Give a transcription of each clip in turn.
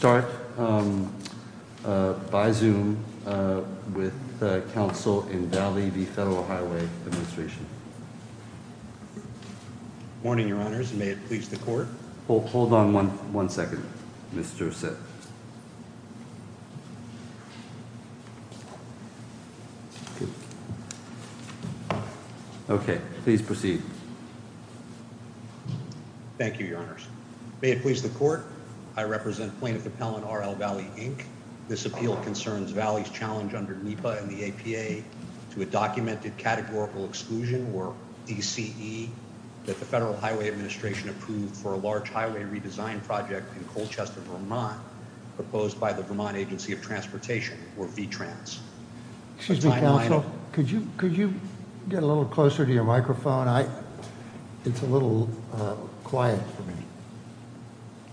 Good morning, Your Honors. May it please the Court? Hold on one second, Mr. Sitt. Okay, please proceed. Thank you, Your Honors. May it please the Court? I represent Plaintiff Appellant R.L. Vallee, Inc. This appeal concerns Vallee's challenge under NEPA and the APA to a documented categorical exclusion, or ECE, that the Federal Highway Administration approved for a large highway redesign project in Colchester, Vermont, proposed by the Vermont Agency of Transportation, or VTRANS. Excuse me, Counsel, could you get a little closer to your microphone? It's a little quiet for me.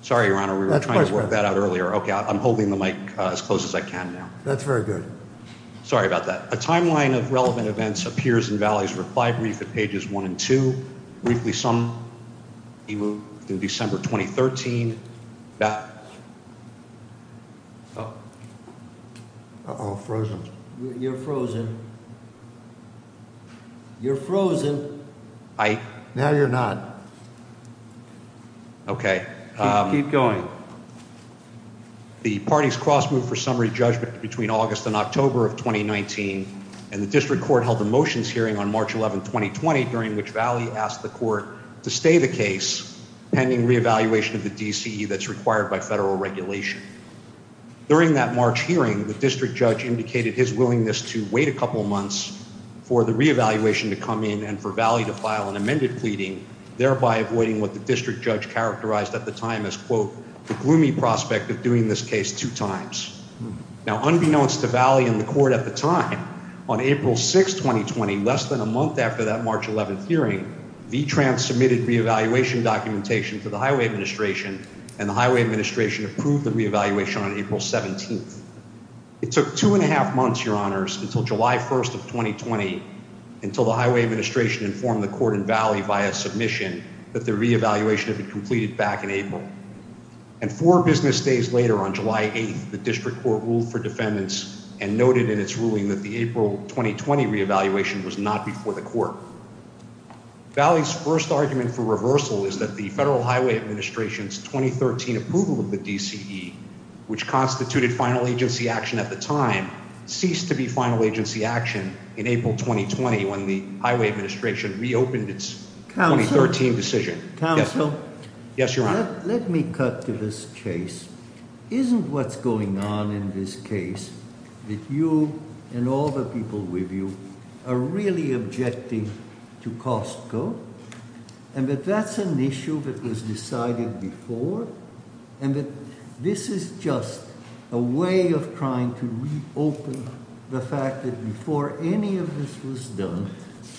Sorry, Your Honor, we were trying to work that out earlier. Okay, I'm holding the mic as close as I can now. That's very good. Sorry about that. A timeline of relevant events appears in Vallee's reply brief at pages 1 and 2, briefly summed up in December 2013. Uh-oh, frozen. You're frozen. You're frozen. Now you're not. Okay, keep going. The parties cross-moved for summary judgment between August and October of 2019, and the District Court held a motions hearing on March 11, 2020, during which Vallee asked the Court to stay the case pending re-evaluation of the DCE that's required by federal regulation. During that March hearing, the District Judge indicated his willingness to wait a couple of months for the re-evaluation to come in and for Vallee to file an amended pleading, thereby avoiding what the District Judge characterized at the time as, quote, the gloomy prospect of doing this case two times. Now, unbeknownst to Vallee and the Court at the time, on April 6, 2020, less than a month after that March 11 hearing, V-Trans submitted re-evaluation documentation to the Highway Administration, and the Highway Administration approved the re-evaluation on April 17. It took two and a half months, Your Honors, until July 1, 2020, until the Highway Administration informed the Court and Vallee via submission that the re-evaluation had been completed back in April. And four business days later, on July 8, the District Court ruled for defendants and noted in its ruling that the April 2020 re-evaluation was not before the Court. Vallee's first argument for reversal is that the Federal Highway Administration's 2013 approval of the DCE, which constituted final agency action at the time, ceased to be final agency action in April 2020 when the Highway Administration reopened its 2013 decision. Counsel? Yes, Your Honor. Let me cut to this case. Isn't what's going on in this case that you and all the people with you are really objecting to Costco? And that that's an issue that was decided before? And that this is just a way of trying to reopen the fact that before any of this was done,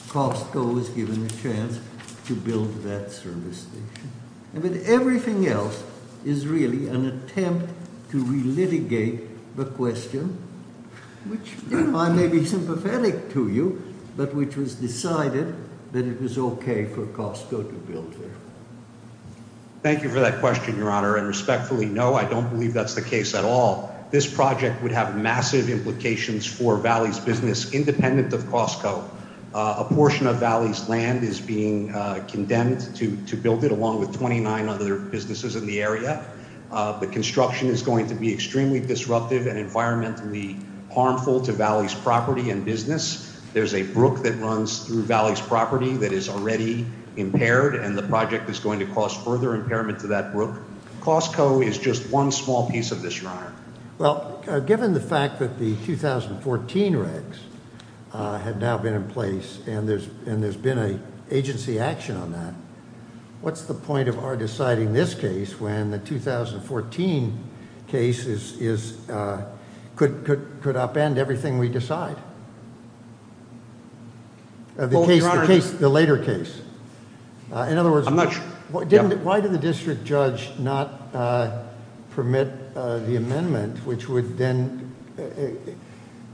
Costco was given a chance to build that service station. And that everything else is really an attempt to re-litigate the question, which I may be sympathetic to you, but which was decided that it was okay for Costco to build there. Thank you for that question, Your Honor. And respectfully, no, I don't believe that's the case at all. This project would have massive implications for Vallee's business, independent of Costco. A portion of Vallee's land is being condemned to build it, along with 29 other businesses in the area. The construction is going to be extremely disruptive and environmentally harmful to Vallee's property and business. There's a brook that runs through Vallee's property that is already impaired, and the project is going to cause further impairment to that brook. Costco is just one small piece of this, Your Honor. Well, given the fact that the 2014 regs have now been in place and there's been an agency action on that, what's the point of our deciding this case when the 2014 case could upend everything we decide? The case, the later case. In other words- I'm not sure. Why did the district judge not permit the amendment, which would then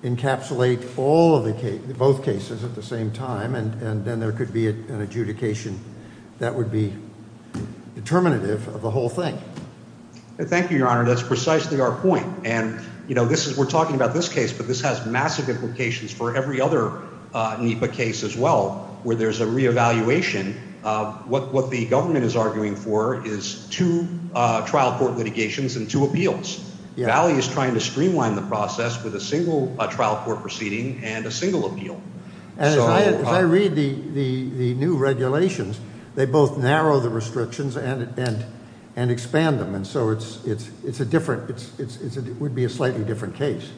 encapsulate both cases at the same time, and then there could be an adjudication that would be determinative of the whole thing? Thank you, Your Honor. That's precisely our point. We're talking about this case, but this has massive implications for every other NEPA case as well, where there's a reevaluation. What the government is arguing for is two trial court litigations and two appeals. Vallee is trying to streamline the process with a single trial court proceeding and a single appeal. As I read the new regulations, they both narrow the restrictions and expand them, and so it would be a slightly different case.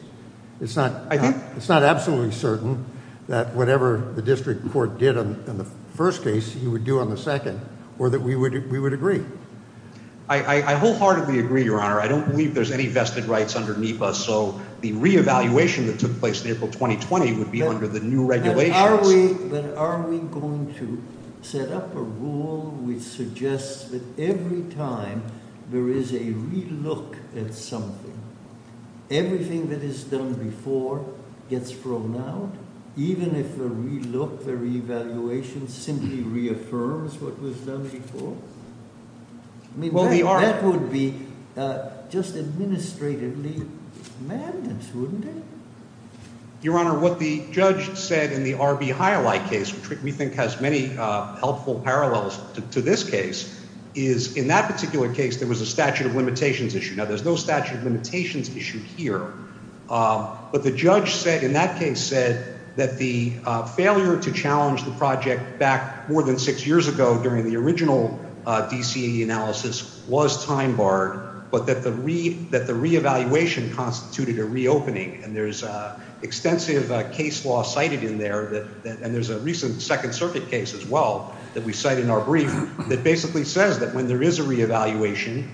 It's not absolutely certain that whatever the district court did on the first case, you would do on the second, or that we would agree. I wholeheartedly agree, Your Honor. I don't believe there's any vested rights underneath us, and so the reevaluation that took place in April 2020 would be under the new regulations. But are we going to set up a rule which suggests that every time there is a relook at something, everything that is done before gets thrown out, even if the relook, the reevaluation simply reaffirms what was done before? I mean, that would be just administratively madness, wouldn't it? Your Honor, what the judge said in the R.B. Highlight case, which we think has many helpful parallels to this case, is in that particular case there was a statute of limitations issue. Now, there's no statute of limitations issue here, but the judge in that case said that the failure to challenge the project back more than six years ago during the original DCE analysis was time barred, but that the reevaluation constituted a reopening, and there's extensive case law cited in there, and there's a recent Second Circuit case as well that we cite in our brief that basically says that when there is a reevaluation,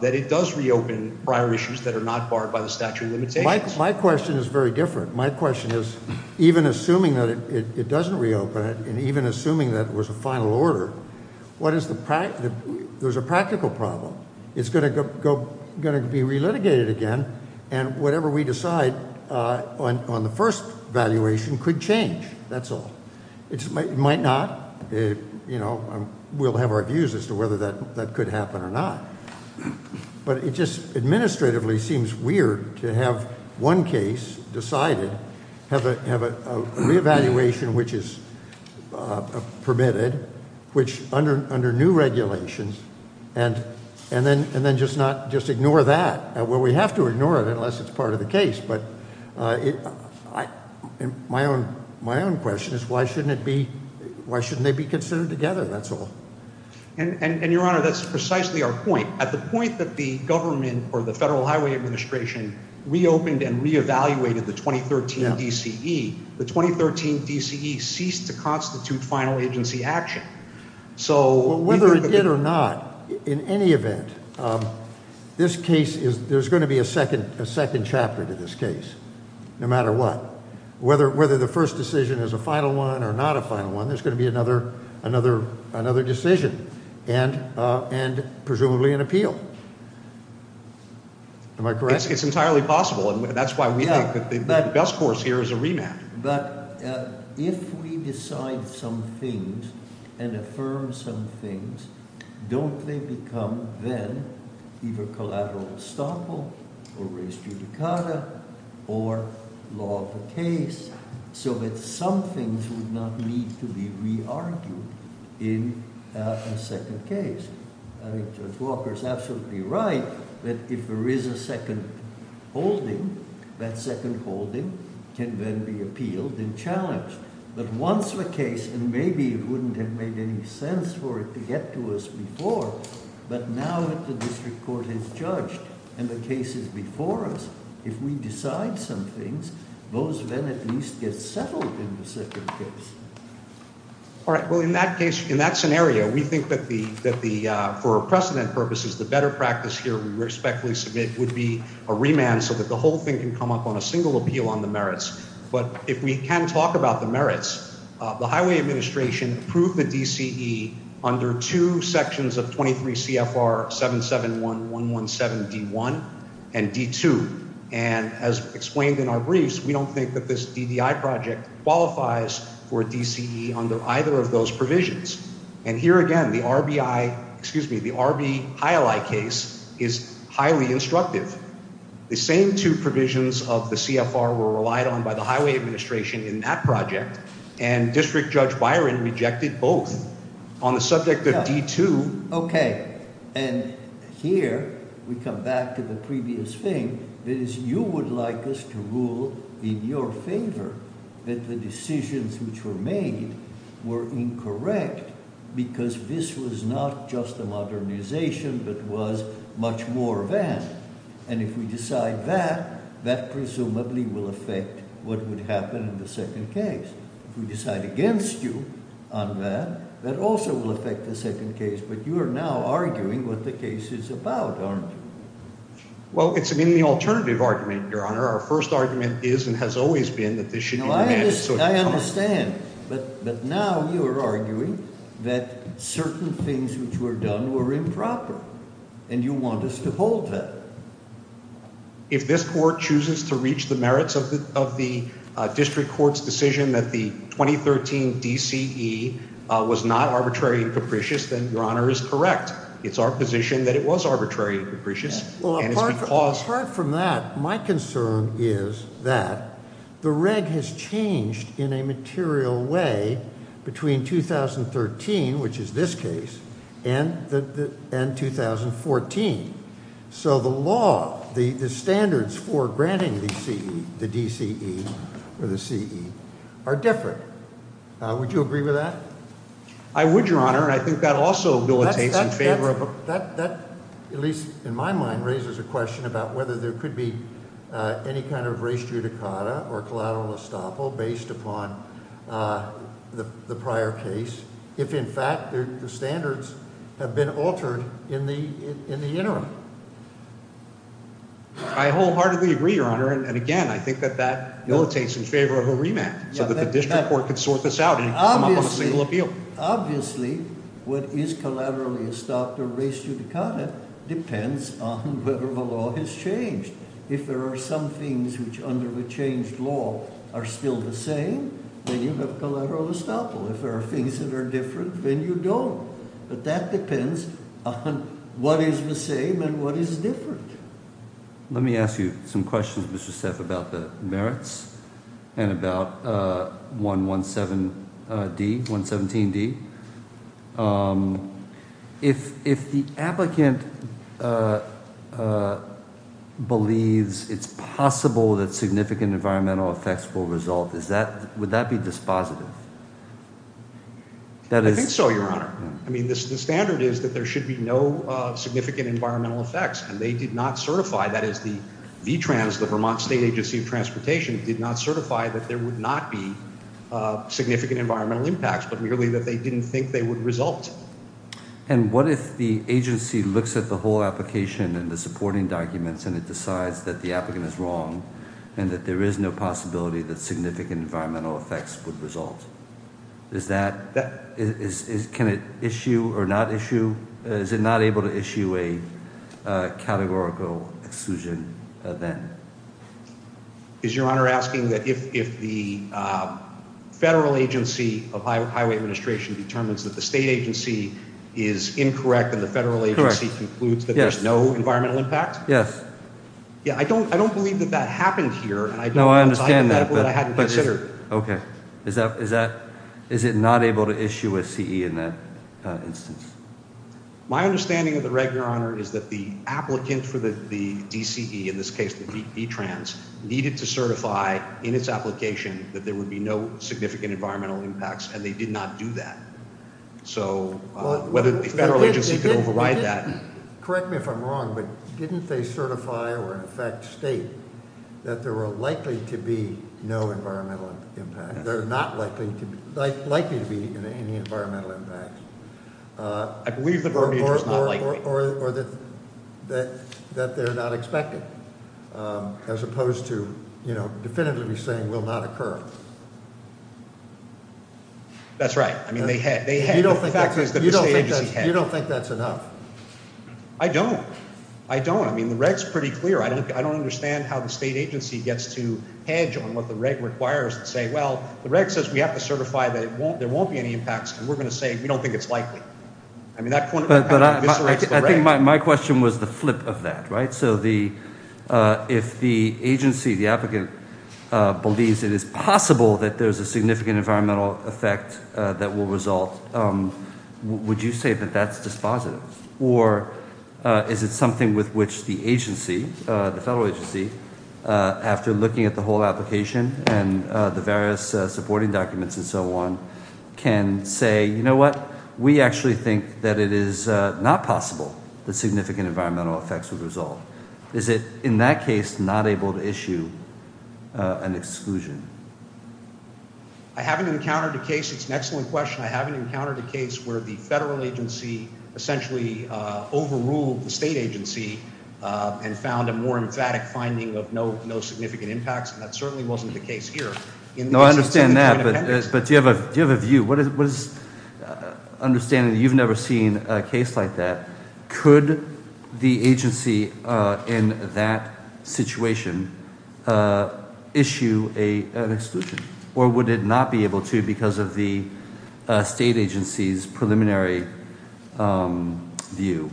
that it does reopen prior issues that are not barred by the statute of limitations. My question is very different. My question is even assuming that it doesn't reopen and even assuming that it was a final order, there's a practical problem. It's going to be relitigated again, and whatever we decide on the first evaluation could change. That's all. It might not. We'll have our views as to whether that could happen or not, but it just administratively seems weird to have one case decided, have a reevaluation which is permitted, which under new regulations, and then just ignore that. Well, we have to ignore it unless it's part of the case, but my own question is why shouldn't they be considered together? That's all. And, Your Honor, that's precisely our point. At the point that the government or the Federal Highway Administration reopened and reevaluated the 2013 DCE, the 2013 DCE ceased to constitute final agency action. Whether it did or not, in any event, there's going to be a second chapter to this case, no matter what. Whether the first decision is a final one or not a final one, there's going to be another decision and presumably an appeal. Am I correct? It's entirely possible, and that's why we think that the best course here is a rematch. But if we decide some things and affirm some things, don't they become then either collateral estoppel or res judicata or law of the case so that some things would not need to be re-argued in a second case? I think Judge Walker is absolutely right that if there is a second holding, that second holding can then be appealed and challenged. But once the case, and maybe it wouldn't have made any sense for it to get to us before, but now that the district court has judged and the case is before us, if we decide some things, those then at least get settled in the second case. All right. Well, in that case, in that scenario, we think that for precedent purposes, the better practice here we respectfully submit would be a remand so that the whole thing can come up on a single appeal on the merits. But if we can talk about the merits, the highway administration approved the DCE under two sections of 23 CFR 771117 D1 and D2. And as explained in our briefs, we don't think that this DDI project qualifies for DCE under either of those provisions. And here again, the RBI, excuse me, the RBI case is highly instructive. The same two provisions of the CFR were relied on by the highway administration in that project. And District Judge Byron rejected both on the subject of D2. Okay. And here we come back to the previous thing, that is you would like us to rule in your favor that the decisions which were made were incorrect because this was not just a modernization but was much more of that. And if we decide that, that presumably will affect what would happen in the second case. If we decide against you on that, that also will affect the second case. But you are now arguing what the case is about, aren't you? Well, it's an in the alternative argument, Your Honor. Our first argument is and has always been that this should be remanded. I understand. But now you are arguing that certain things which were done were improper. And you want us to hold that. If this court chooses to reach the merits of the district court's decision that the 2013 DCE was not arbitrary and capricious, then Your Honor is correct. It's our position that it was arbitrary and capricious. Well, apart from that, my concern is that the reg has changed in a material way between 2013, which is this case, and 2014. So the law, the standards for granting the DCE or the CE are different. Would you agree with that? I would, Your Honor, and I think that also militates in favor of a That, at least in my mind, raises a question about whether there could be any kind of res judicata or collateral estoppel based upon the prior case, if, in fact, the standards have been altered in the interim. I wholeheartedly agree, Your Honor. And, again, I think that that militates in favor of a remand so that the district court could sort this out and come up with a single appeal. Obviously, what is collateral estoppel or res judicata depends on whether the law has changed. If there are some things which under the changed law are still the same, then you have collateral estoppel. If there are things that are different, then you don't. But that depends on what is the same and what is different. Let me ask you some questions, Mr. Steff, about the merits and about 117D. If the applicant believes it's possible that significant environmental effects will result, would that be dispositive? I think so, Your Honor. I mean, the standard is that there should be no significant environmental effects, and they did not certify. That is, the V-Trans, the Vermont State Agency of Transportation, did not certify that there would not be significant environmental impacts, but merely that they didn't think they would result. And what if the agency looks at the whole application and the supporting documents, and it decides that the applicant is wrong and that there is no possibility that significant environmental effects would result? Can it issue or not issue? Is it not able to issue a categorical exclusion then? Is Your Honor asking that if the federal agency of highway administration determines that the state agency is incorrect and the federal agency concludes that there's no environmental impact? Yes. I don't believe that that happened here. No, I understand that. Okay. Is it not able to issue a CE in that instance? My understanding of the record, Your Honor, is that the applicant for the DCE, in this case the V-Trans, needed to certify in its application that there would be no significant environmental impacts, and they did not do that. So whether the federal agency could override that. Correct me if I'm wrong, but didn't they certify or in effect state that there were likely to be no environmental impacts? They're not likely to be any environmental impacts. I believe the verbiage was not likely. Or that they're not expected, as opposed to definitively saying will not occur. That's right. You don't think that's enough? I don't. I don't. I mean, the reg's pretty clear. I don't understand how the state agency gets to hedge on what the reg requires and say, well, the reg says we have to certify that there won't be any impacts, and we're going to say we don't think it's likely. I mean, that kind of eviscerates the reg. I think my question was the flip of that, right? If the agency, the applicant, believes it is possible that there's a significant environmental effect that will result, would you say that that's dispositive? Or is it something with which the agency, the federal agency, after looking at the whole application and the various supporting documents and so on, can say, you know what? We actually think that it is not possible that significant environmental effects would result. Is it in that case not able to issue an exclusion? I haven't encountered a case. It's an excellent question. I haven't encountered a case where the federal agency essentially overruled the state agency and found a more emphatic finding of no significant impacts, and that certainly wasn't the case here. No, I understand that, but do you have a view? What is the understanding that you've never seen a case like that? Could the agency in that situation issue an exclusion, or would it not be able to because of the state agency's preliminary view?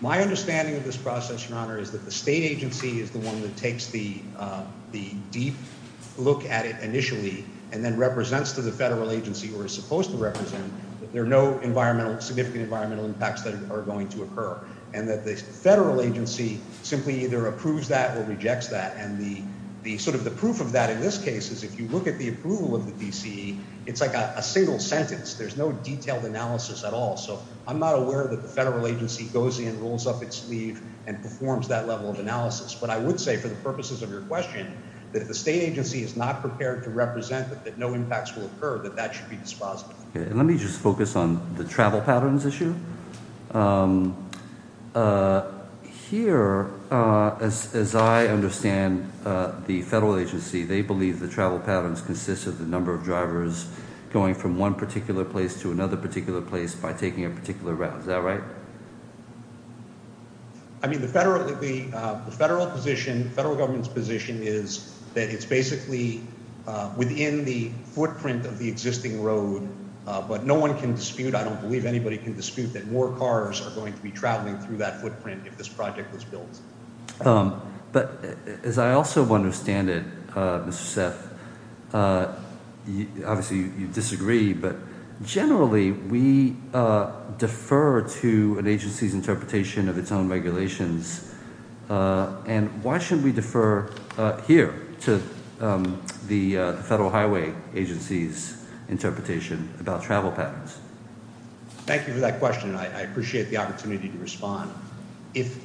My understanding of this process, Your Honor, is that the state agency is the one that takes the deep look at it initially and then represents to the federal agency, or is supposed to represent, that there are no significant environmental impacts that are going to occur, and that the federal agency simply either approves that or rejects that. And sort of the proof of that in this case is if you look at the approval of the DCE, it's like a single sentence. There's no detailed analysis at all. So I'm not aware that the federal agency goes in, rolls up its sleeve, and performs that level of analysis. But I would say, for the purposes of your question, that if the state agency is not prepared to represent that no impacts will occur, that that should be disposed of. Let me just focus on the travel patterns issue. Here, as I understand the federal agency, they believe the travel patterns consist of the number of drivers going from one particular place to another particular place by taking a particular route. Is that right? I mean, the federal position, the federal government's position is that it's basically within the footprint of the existing road, but no one can dispute, I don't believe anybody can dispute, that more cars are going to be traveling through that footprint if this project was built. But as I also understand it, Mr. Seth, obviously you disagree, but generally we defer to an agency's interpretation of its own regulations. And why shouldn't we defer here to the federal highway agency's interpretation about travel patterns? Thank you for that question. I appreciate the opportunity to respond. If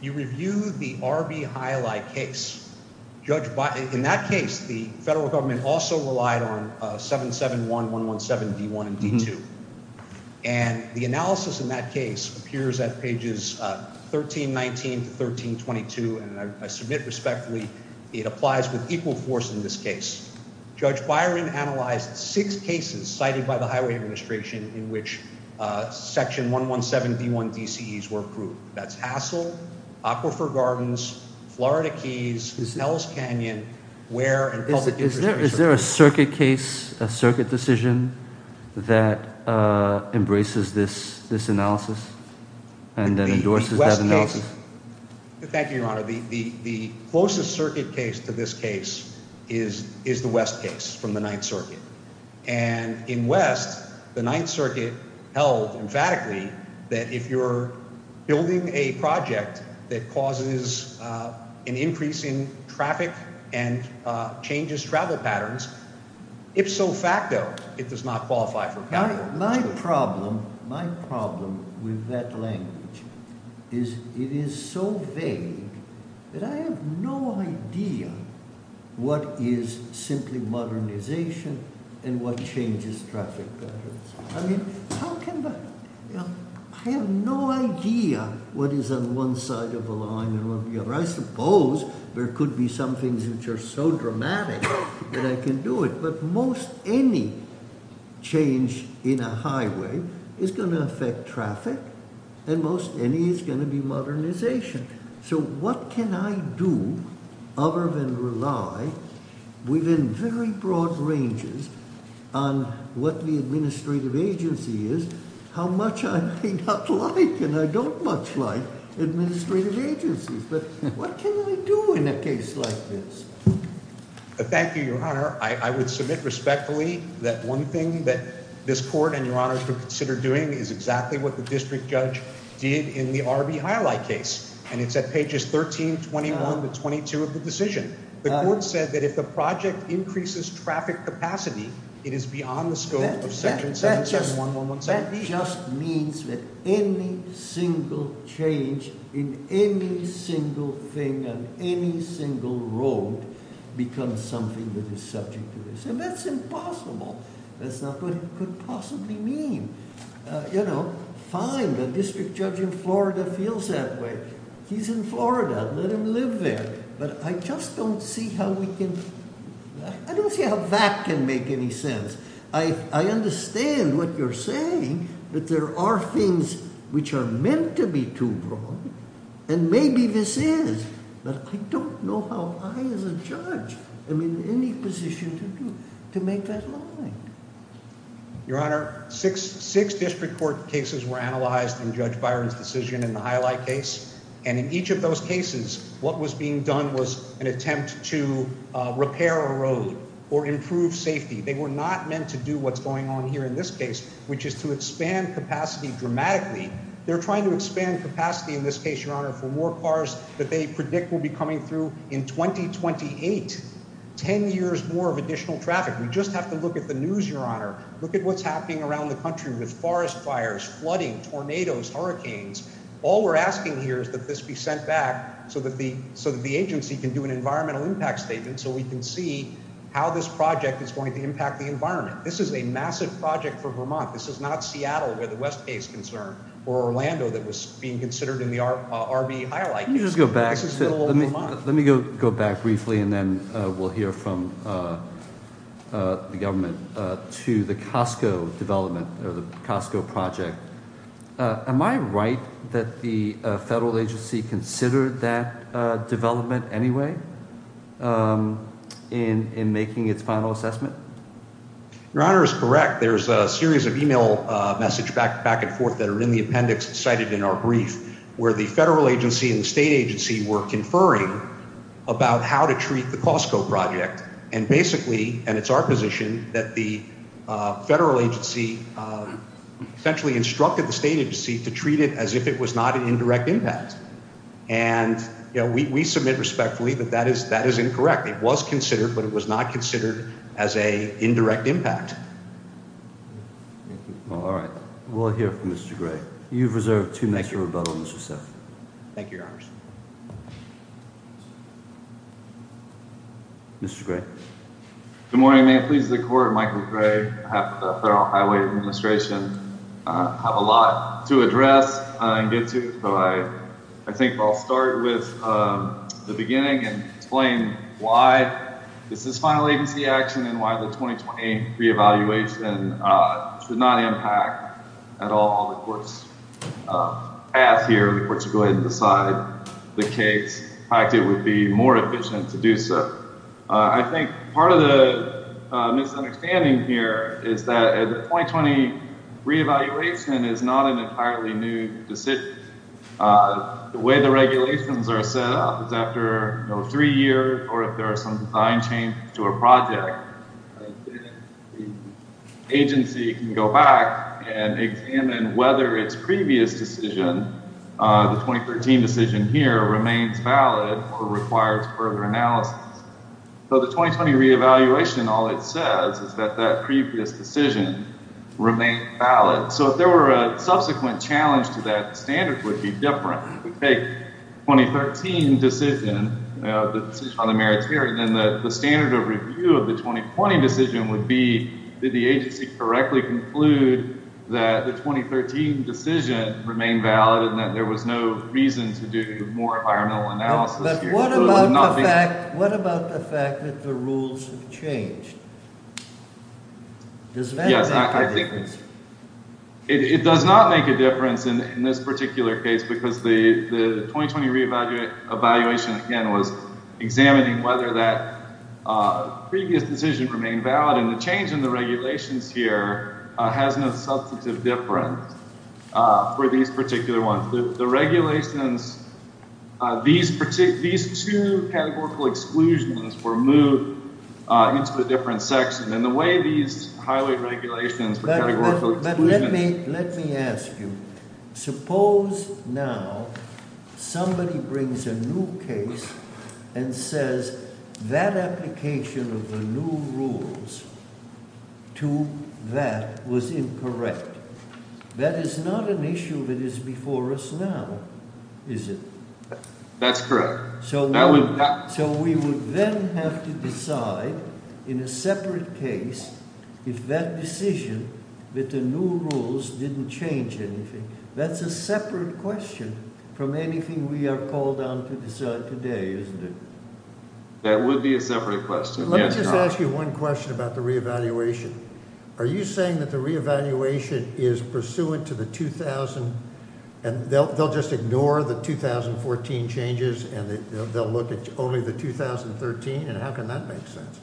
you review the R.B. Hialeah case, in that case the federal government also relied on 771, 117, D1, and D2. And the analysis in that case appears at pages 1319 to 1322, and I submit respectfully it applies with equal force in this case. Judge Byron analyzed six cases cited by the highway administration in which section 117, D1, DCEs were approved. That's Hassell, Aquifer Gardens, Florida Keys, Hell's Canyon, Ware, and Public Interest Research. Is there a circuit case, a circuit decision that embraces this analysis and then endorses that analysis? Thank you, Your Honor. The closest circuit case to this case is the West case from the Ninth Circuit. And in West, the Ninth Circuit held emphatically that if you're building a project that causes an increase in traffic and changes travel patterns, ipso facto it does not qualify for coverage. My problem with that language is it is so vague that I have no idea what is simply modernization and what changes traffic patterns. I have no idea what is on one side of the line and on the other. I suppose there could be some things which are so dramatic that I can do it. But most any change in a highway is going to affect traffic and most any is going to be modernization. So what can I do other than rely within very broad ranges on what the administrative agency is, how much I may not like and I don't much like administrative agencies. But what can I do in a case like this? Thank you, Your Honor. I would submit respectfully that one thing that this court and Your Honor should consider doing is exactly what the district judge did in the R.B. Highlight case. And it's at pages 13, 21 to 22 of the decision. The court said that if the project increases traffic capacity, it is beyond the scope of section 771117B. It just means that any single change in any single thing on any single road becomes something that is subject to this. And that's impossible. That's not what it could possibly mean. You know, fine, the district judge in Florida feels that way. He's in Florida. Let him live there. But I just don't see how we can – I don't see how that can make any sense. I understand what you're saying, that there are things which are meant to be too broad, and maybe this is. But I don't know how I as a judge am in any position to do – to make that line. Your Honor, six district court cases were analyzed in Judge Byron's decision in the Highlight case. And in each of those cases, what was being done was an attempt to repair a road or improve safety. They were not meant to do what's going on here in this case, which is to expand capacity dramatically. They're trying to expand capacity in this case, Your Honor, for more cars that they predict will be coming through in 2028. Ten years more of additional traffic. We just have to look at the news, Your Honor. Look at what's happening around the country with forest fires, flooding, tornadoes, hurricanes. All we're asking here is that this be sent back so that the agency can do an environmental impact statement so we can see how this project is going to impact the environment. This is a massive project for Vermont. This is not Seattle, where the West Bay is concerned, or Orlando that was being considered in the R.B. Highlight case. Let me go back briefly, and then we'll hear from the government, to the Costco development or the Costco project. Am I right that the federal agency considered that development anyway in making its final assessment? Your Honor is correct. There's a series of email messages back and forth that are in the appendix cited in our brief where the federal agency and the state agency were conferring about how to treat the Costco project. And basically, and it's our position, that the federal agency essentially instructed the state agency to treat it as if it was not an indirect impact. And we submit respectfully that that is incorrect. It was considered, but it was not considered as an indirect impact. All right. We'll hear from Mr. Gray. You've reserved two minutes for rebuttal, Mr. Seff. Thank you, Your Honor. Mr. Gray. Good morning. May it please the Court, Michael Gray, on behalf of the Federal Highway Administration. I have a lot to address and get to, so I think I'll start with the beginning and explain why this is final agency action and why the 2020 re-evaluation should not impact at all the court's path here. The court should go ahead and decide the case. In fact, it would be more efficient to do so. I think part of the misunderstanding here is that the 2020 re-evaluation is not an entirely new decision. The way the regulations are set up is after three years or if there are some design changes to a project, the agency can go back and examine whether its previous decision, the 2013 decision here, remains valid or requires further analysis. So the 2020 re-evaluation, all it says is that that previous decision remained valid. So if there were a subsequent challenge to that standard, it would be different. If we take the 2013 decision, the decision on the merit theory, then the standard of review of the 2020 decision would be, did the agency correctly conclude that the 2013 decision remained valid and that there was no reason to do more environmental analysis here? But what about the fact that the rules have changed? Yes, I think it does not make a difference in this particular case because the 2020 re-evaluation again was examining whether that previous decision remained valid and the change in the regulations here has no substantive difference for these particular ones. The regulations, these two categorical exclusions were moved into a different section and the way these highway regulations were categorical exclusions. But let me ask you. Suppose now somebody brings a new case and says that application of the new rules to that was incorrect. That is not an issue that is before us now, is it? That's correct. So we would then have to decide in a separate case if that decision that the new rules didn't change anything. That's a separate question from anything we are called on to decide today, isn't it? That would be a separate question. Let me just ask you one question about the re-evaluation. Are you saying that the re-evaluation is pursuant to the 2000 and they'll just ignore the 2014 changes and they'll look at only the 2013 and how can that make sense?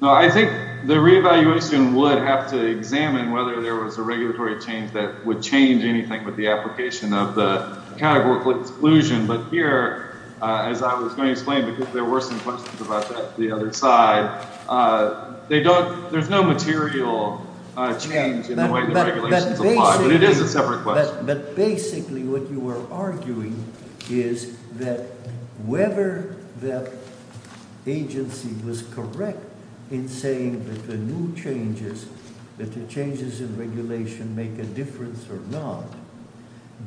No, I think the re-evaluation would have to examine whether there was a regulatory change that would change anything with the application of the categorical exclusion. But here, as I was going to explain, because there were some questions about that on the other side, there's no material change in the way the regulations apply. But it is a separate question. But basically what you were arguing is that whether the agency was correct in saying that the new changes, that the changes in regulation make a difference or not,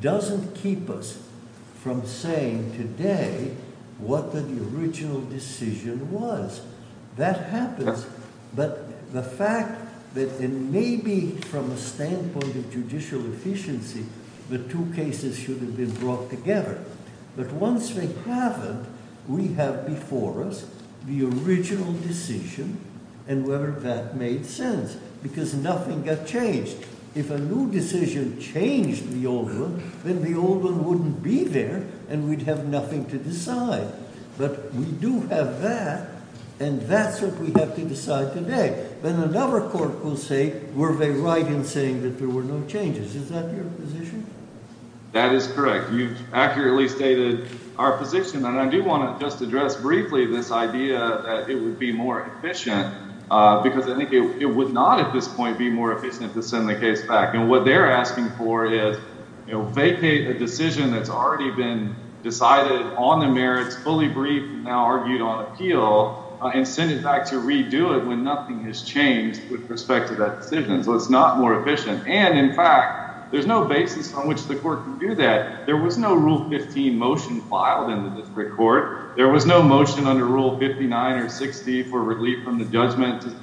doesn't keep us from saying today what the original decision was. That happens. But the fact that it may be from a standpoint of judicial efficiency, the two cases should have been brought together. But once they haven't, we have before us the original decision and whether that made sense. Because nothing got changed. If a new decision changed the old one, then the old one wouldn't be there and we'd have nothing to decide. But we do have that and that's what we have to decide today. Then another court will say, were they right in saying that there were no changes? Is that your position? That is correct. You've accurately stated our position. And I do want to just address briefly this idea that it would be more efficient because I think it would not at this point be more efficient to send the case back. And what they're asking for is vacate a decision that's already been decided on the merits, fully briefed and now argued on appeal and send it back to redo it when nothing has changed with respect to that decision. So it's not more efficient. And, in fact, there's no basis on which the court can do that. There was no Rule 15 motion filed in the district court. There was no motion under Rule 59 or 60 for relief from the judgment to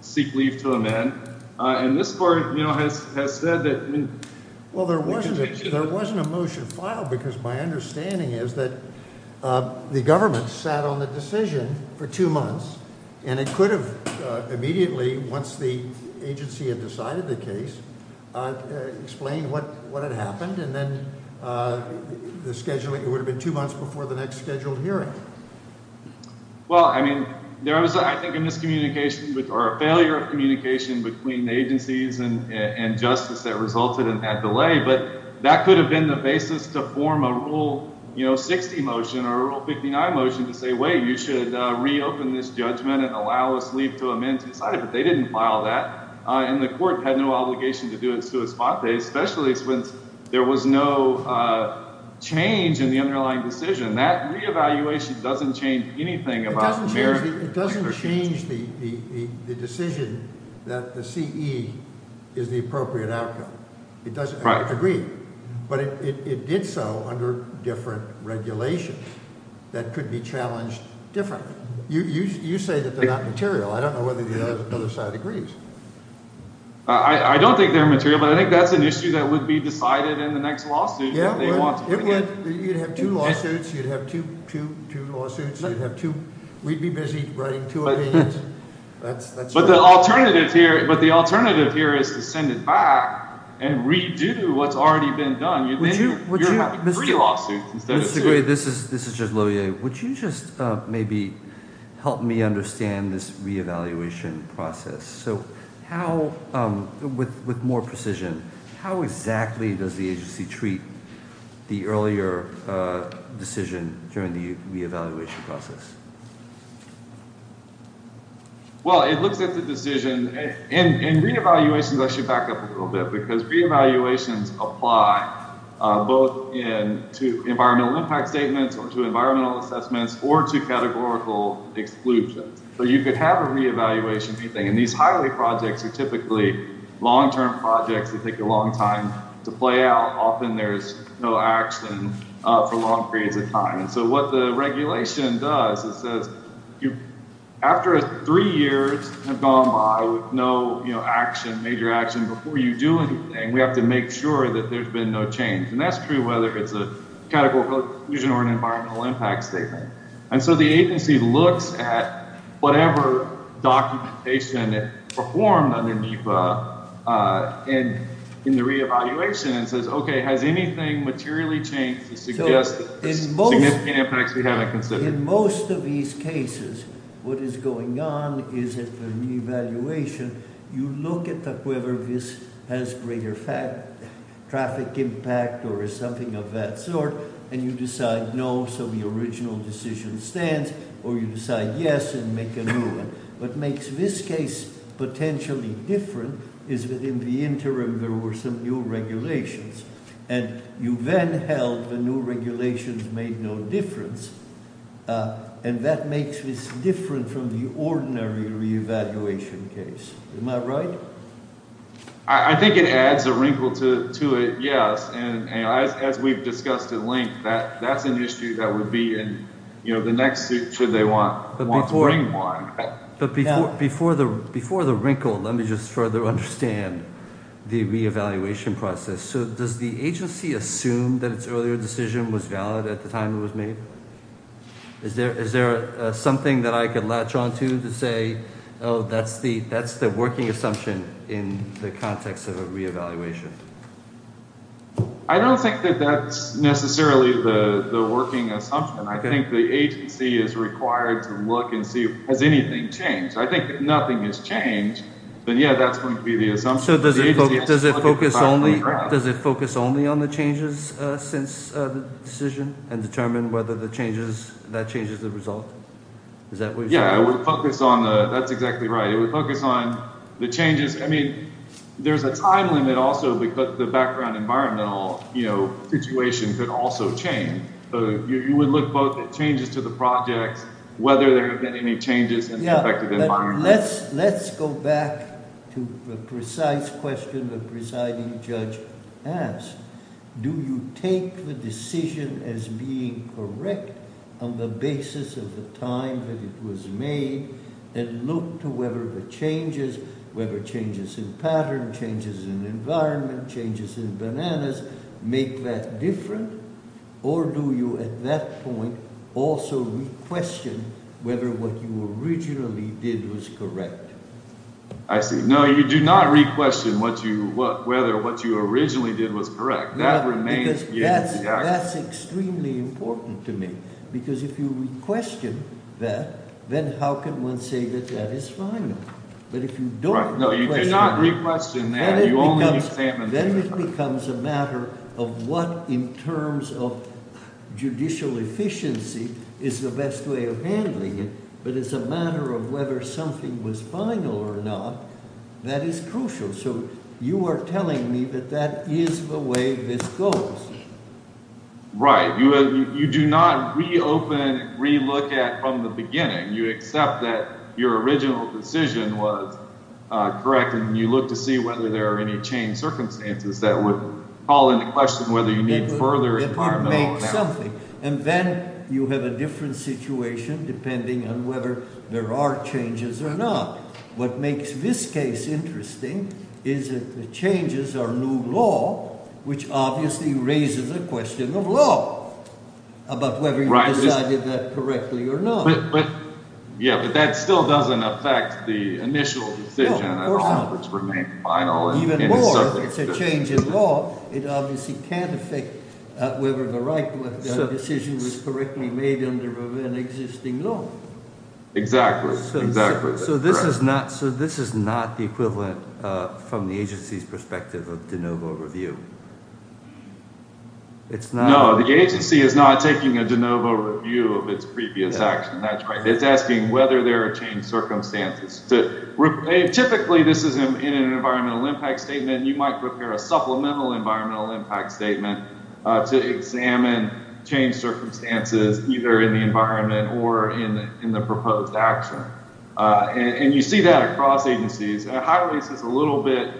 seek leave to amend. And this court has said that. Well, there wasn't a motion filed because my understanding is that the government sat on the decision for two months, and it could have immediately, once the agency had decided the case, explained what had happened. And then it would have been two months before the next scheduled hearing. Well, I mean, there was, I think, a miscommunication or a failure of communication between agencies and justice that resulted in that delay. But that could have been the basis to form a Rule 60 motion or a Rule 59 motion to say, wait, you should reopen this judgment and allow us leave to amend to decide it. But they didn't file that. And the court had no obligation to do it, especially when there was no change in the underlying decision. And that reevaluation doesn't change anything about merit. It doesn't change the decision that the CE is the appropriate outcome. It doesn't agree. But it did so under different regulations that could be challenged differently. You say that they're not material. I don't know whether the other side agrees. I don't think they're material. But I think that's an issue that would be decided in the next lawsuit. Yeah, it would. You'd have two lawsuits. You'd have two, two, two lawsuits. You'd have two. We'd be busy writing two opinions. But the alternative here is to send it back and redo what's already been done. You're having three lawsuits instead of two. Mr. Gray, this is just Loehr. Would you just maybe help me understand this reevaluation process? With more precision, how exactly does the agency treat the earlier decision during the reevaluation process? Well, it looks at the decision. In reevaluations, I should back up a little bit because reevaluations apply both to environmental impact statements or to environmental assessments or to categorical exclusions. So you could have a reevaluation. And these highway projects are typically long-term projects that take a long time to play out. Often there's no action for long periods of time. And so what the regulation does is says after three years have gone by with no action, major action, before you do anything, we have to make sure that there's been no change. And that's true whether it's a categorical exclusion or an environmental impact statement. And so the agency looks at whatever documentation performed under NEPA in the reevaluation and says, okay, has anything materially changed to suggest significant impacts we haven't considered? In most of these cases, what is going on is at the reevaluation, you look at whether this has greater traffic impact or is something of that sort, and you decide no, so the original decision stands, or you decide yes and make a new one. What makes this case potentially different is that in the interim there were some new regulations. And you then held the new regulations made no difference, and that makes this different from the ordinary reevaluation case. Am I right? I think it adds a wrinkle to it, yes. And as we've discussed at length, that's an issue that would be in the next suit should they want to bring one. But before the wrinkle, let me just further understand the reevaluation process. So does the agency assume that its earlier decision was valid at the time it was made? Is there something that I could latch on to to say, oh, that's the working assumption in the context of a reevaluation? I don't think that that's necessarily the working assumption. I think the agency is required to look and see has anything changed. I think if nothing has changed, then, yeah, that's going to be the assumption. So does it focus only on the changes since the decision and determine whether that changes the result? Is that what you're saying? Yeah, that's exactly right. It would focus on the changes. I mean, there's a time limit also because the background environmental situation could also change. So you would look both at changes to the projects, whether there have been any changes in the affected environment. Let's go back to the precise question the presiding judge asked. Do you take the decision as being correct on the basis of the time that it was made and look to whether the changes, whether changes in pattern, changes in environment, changes in bananas, make that different? Or do you at that point also re-question whether what you originally did was correct? I see. No, you do not re-question whether what you originally did was correct. That remains. That's extremely important to me because if you re-question that, then how can one say that that is final? Right. No, you do not re-question that. Then it becomes a matter of what in terms of judicial efficiency is the best way of handling it. But it's a matter of whether something was final or not. That is crucial. So you are telling me that that is the way this goes. Right. You do not re-open and re-look at from the beginning. You accept that your original decision was correct and you look to see whether there are any changed circumstances that would call into question whether you need further environmental impact. That would make something. And then you have a different situation depending on whether there are changes or not. What makes this case interesting is that the changes are new law, which obviously raises a question of law about whether you decided that correctly or not. Yeah, but that still doesn't affect the initial decision at all, which remained final. Even more, if it's a change in law, it obviously can't affect whether the right decision was correctly made under an existing law. Exactly. Exactly. So this is not the equivalent from the agency's perspective of de novo review. No, the agency is not taking a de novo review of its previous action. That's right. It's asking whether there are changed circumstances. Typically, this is in an environmental impact statement. You might prepare a supplemental environmental impact statement to examine changed circumstances either in the environment or in the proposed action. And you see that across agencies. Highways is a little bit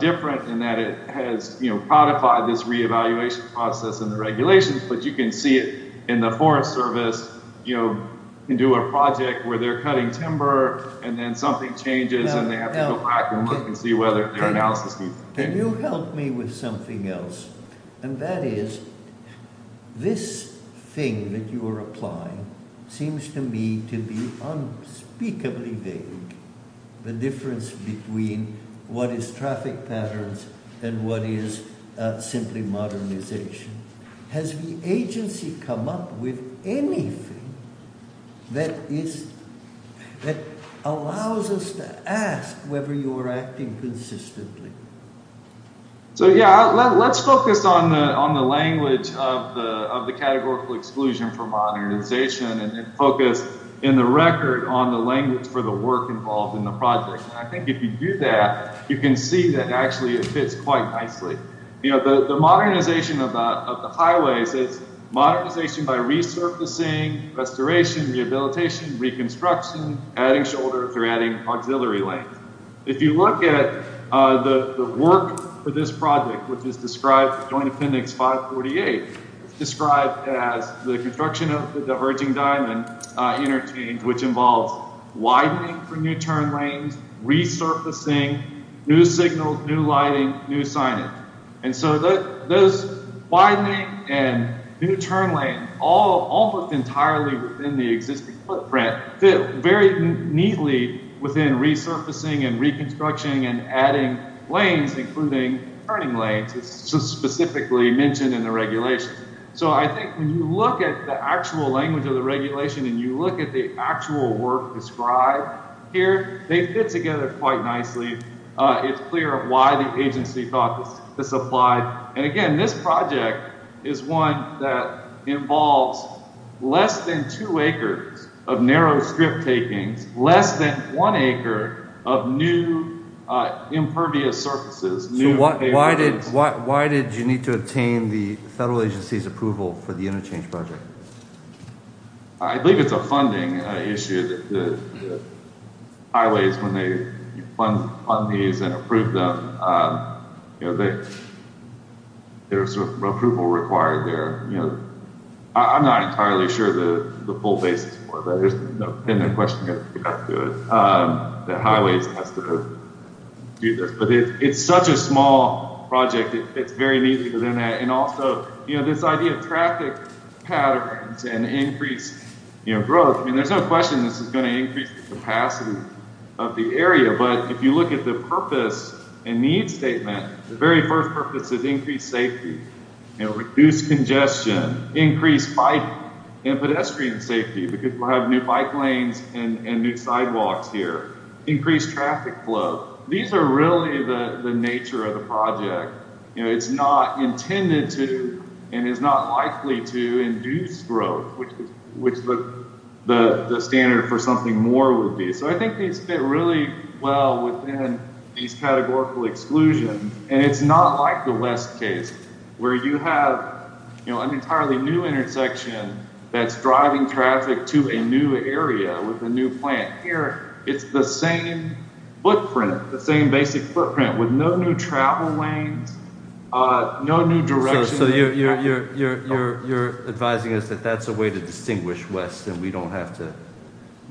different in that it has codified this reevaluation process and the regulations, but you can see it in the Forest Service. You can do a project where they're cutting timber, and then something changes, and they have to go back and look and see whether their analysis is correct. Can you help me with something else? And that is, this thing that you are applying seems to me to be unspeakably vague, the difference between what is traffic patterns and what is simply modernization. Has the agency come up with anything that allows us to ask whether you are acting consistently? So, yeah, let's focus on the language of the categorical exclusion for modernization and then focus in the record on the language for the work involved in the project. And I think if you do that, you can see that actually it fits quite nicely. You know, the modernization of the highways is modernization by resurfacing, restoration, rehabilitation, reconstruction, adding shoulders, or adding auxiliary lanes. If you look at the work for this project, which is described in Joint Appendix 548, it's described as the construction of the diverging diamond interchange, which involves widening for new turn lanes, resurfacing, new signals, new lighting, new signage. And so those widening and new turn lanes all look entirely within the existing footprint, fit very neatly within resurfacing and reconstruction and adding lanes, including turning lanes, specifically mentioned in the regulation. So I think when you look at the actual language of the regulation and you look at the actual work described here, they fit together quite nicely. It's clear why the agency thought this applied. And again, this project is one that involves less than two acres of narrow strip takings, less than one acre of new impervious surfaces. So why did you need to obtain the federal agency's approval for the interchange project? I believe it's a funding issue. The highways, when they fund these and approve them, there's some approval required there. You know, I'm not entirely sure the full basis for that. There's no question about that. The highways has to do this. But it's such a small project. It fits very neatly within that. And also, you know, this idea of traffic patterns and increased growth, I mean, there's no question this is going to increase the capacity of the area. But if you look at the purpose and need statement, the very first purpose is increased safety, reduced congestion, increased bike and pedestrian safety because we'll have new bike lanes and new sidewalks here, increased traffic flow. These are really the nature of the project. You know, it's not intended to and is not likely to induce growth, which the standard for something more would be. So I think these fit really well within these categorical exclusions. And it's not like the West case where you have, you know, an entirely new intersection that's driving traffic to a new area with a new plant. Here, it's the same footprint, the same basic footprint with no new travel lanes, no new direction. So you're advising us that that's a way to distinguish West and we don't have to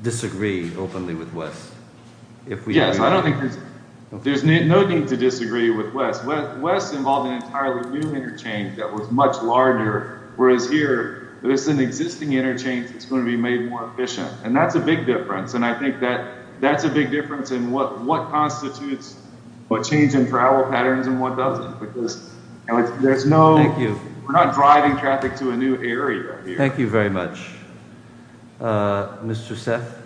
disagree openly with West. Yes, I don't think there's no need to disagree with West. West involved an entirely new interchange that was much larger. Whereas here, there's an existing interchange that's going to be made more efficient. And that's a big difference. And I think that that's a big difference in what constitutes what change in travel patterns and what doesn't, because there's no. Thank you. We're not driving traffic to a new area. Thank you very much. Mr. Seth.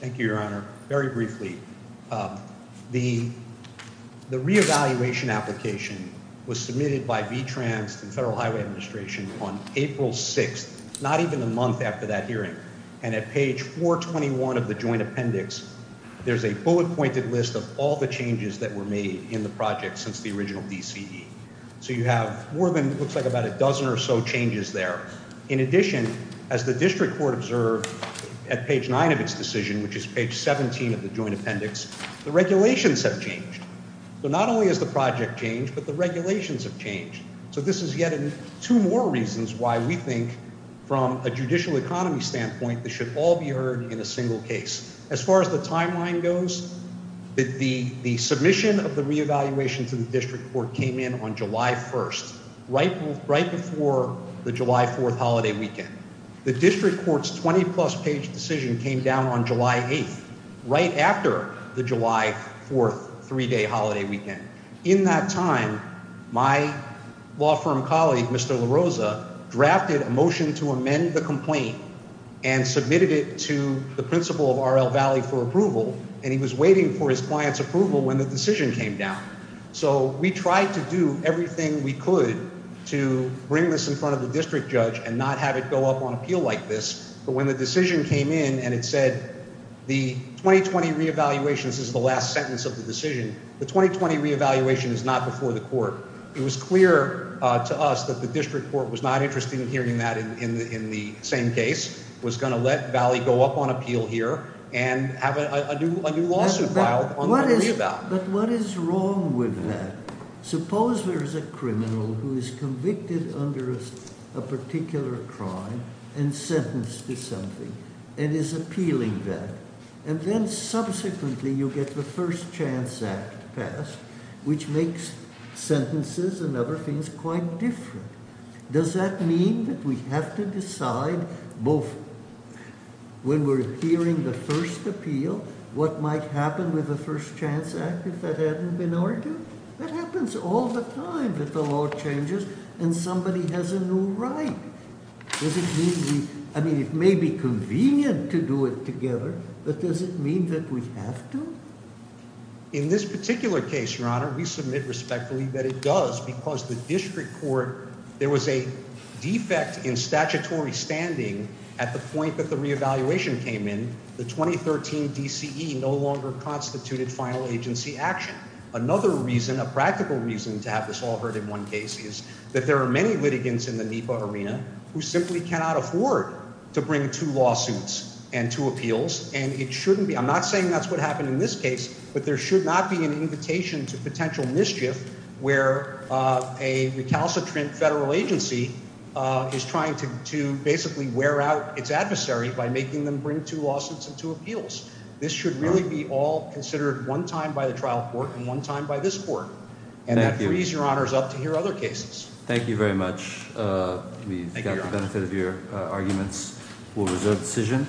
Thank you, Your Honor. Very briefly, the re-evaluation application was submitted by V-Trans and Federal Highway Administration on April 6th, not even a month after that hearing. And at page 421 of the joint appendix, there's a bullet-pointed list of all the changes that were made in the project since the original DCE. So you have more than it looks like about a dozen or so changes there. In addition, as the district court observed at page 9 of its decision, which is page 17 of the joint appendix, the regulations have changed. So not only has the project changed, but the regulations have changed. So this is yet two more reasons why we think, from a judicial economy standpoint, this should all be heard in a single case. As far as the timeline goes, the submission of the re-evaluation to the district court came in on July 1st, right before the July 4th holiday weekend. The district court's 20-plus page decision came down on July 8th, right after the July 4th three-day holiday weekend. In that time, my law firm colleague, Mr. LaRosa, drafted a motion to amend the complaint and submitted it to the principal of RL Valley for approval. And he was waiting for his client's approval when the decision came down. So we tried to do everything we could to bring this in front of the district judge and not have it go up on appeal like this. But when the decision came in and it said, the 2020 re-evaluation, this is the last sentence of the decision, the 2020 re-evaluation is not before the court. It was clear to us that the district court was not interested in hearing that in the same case, was going to let Valley go up on appeal here and have a new lawsuit filed on the re-eval. But what is wrong with that? Suppose there's a criminal who is convicted under a particular crime and sentenced to something and is appealing that. And then subsequently you get the First Chance Act passed, which makes sentences and other things quite different. Does that mean that we have to decide both when we're hearing the first appeal, what might happen with the First Chance Act if that hadn't been argued? That happens all the time that the law changes and somebody has a new right. I mean, it may be convenient to do it together, but does it mean that we have to? In this particular case, Your Honor, we submit respectfully that it does because the district court, there was a defect in statutory standing at the point that the re-evaluation came in. The 2013 DCE no longer constituted final agency action. Another reason, a practical reason to have this all heard in one case is that there are many litigants in the NEPA arena who simply cannot afford to bring two lawsuits and two appeals. I'm not saying that's what happened in this case, but there should not be an invitation to potential mischief where a recalcitrant federal agency is trying to basically wear out its adversary by making them bring two lawsuits and two appeals. This should really be all considered one time by the trial court and one time by this court. And that frees Your Honor up to hear other cases. Thank you very much. We've got the benefit of your arguments. We'll reserve decision.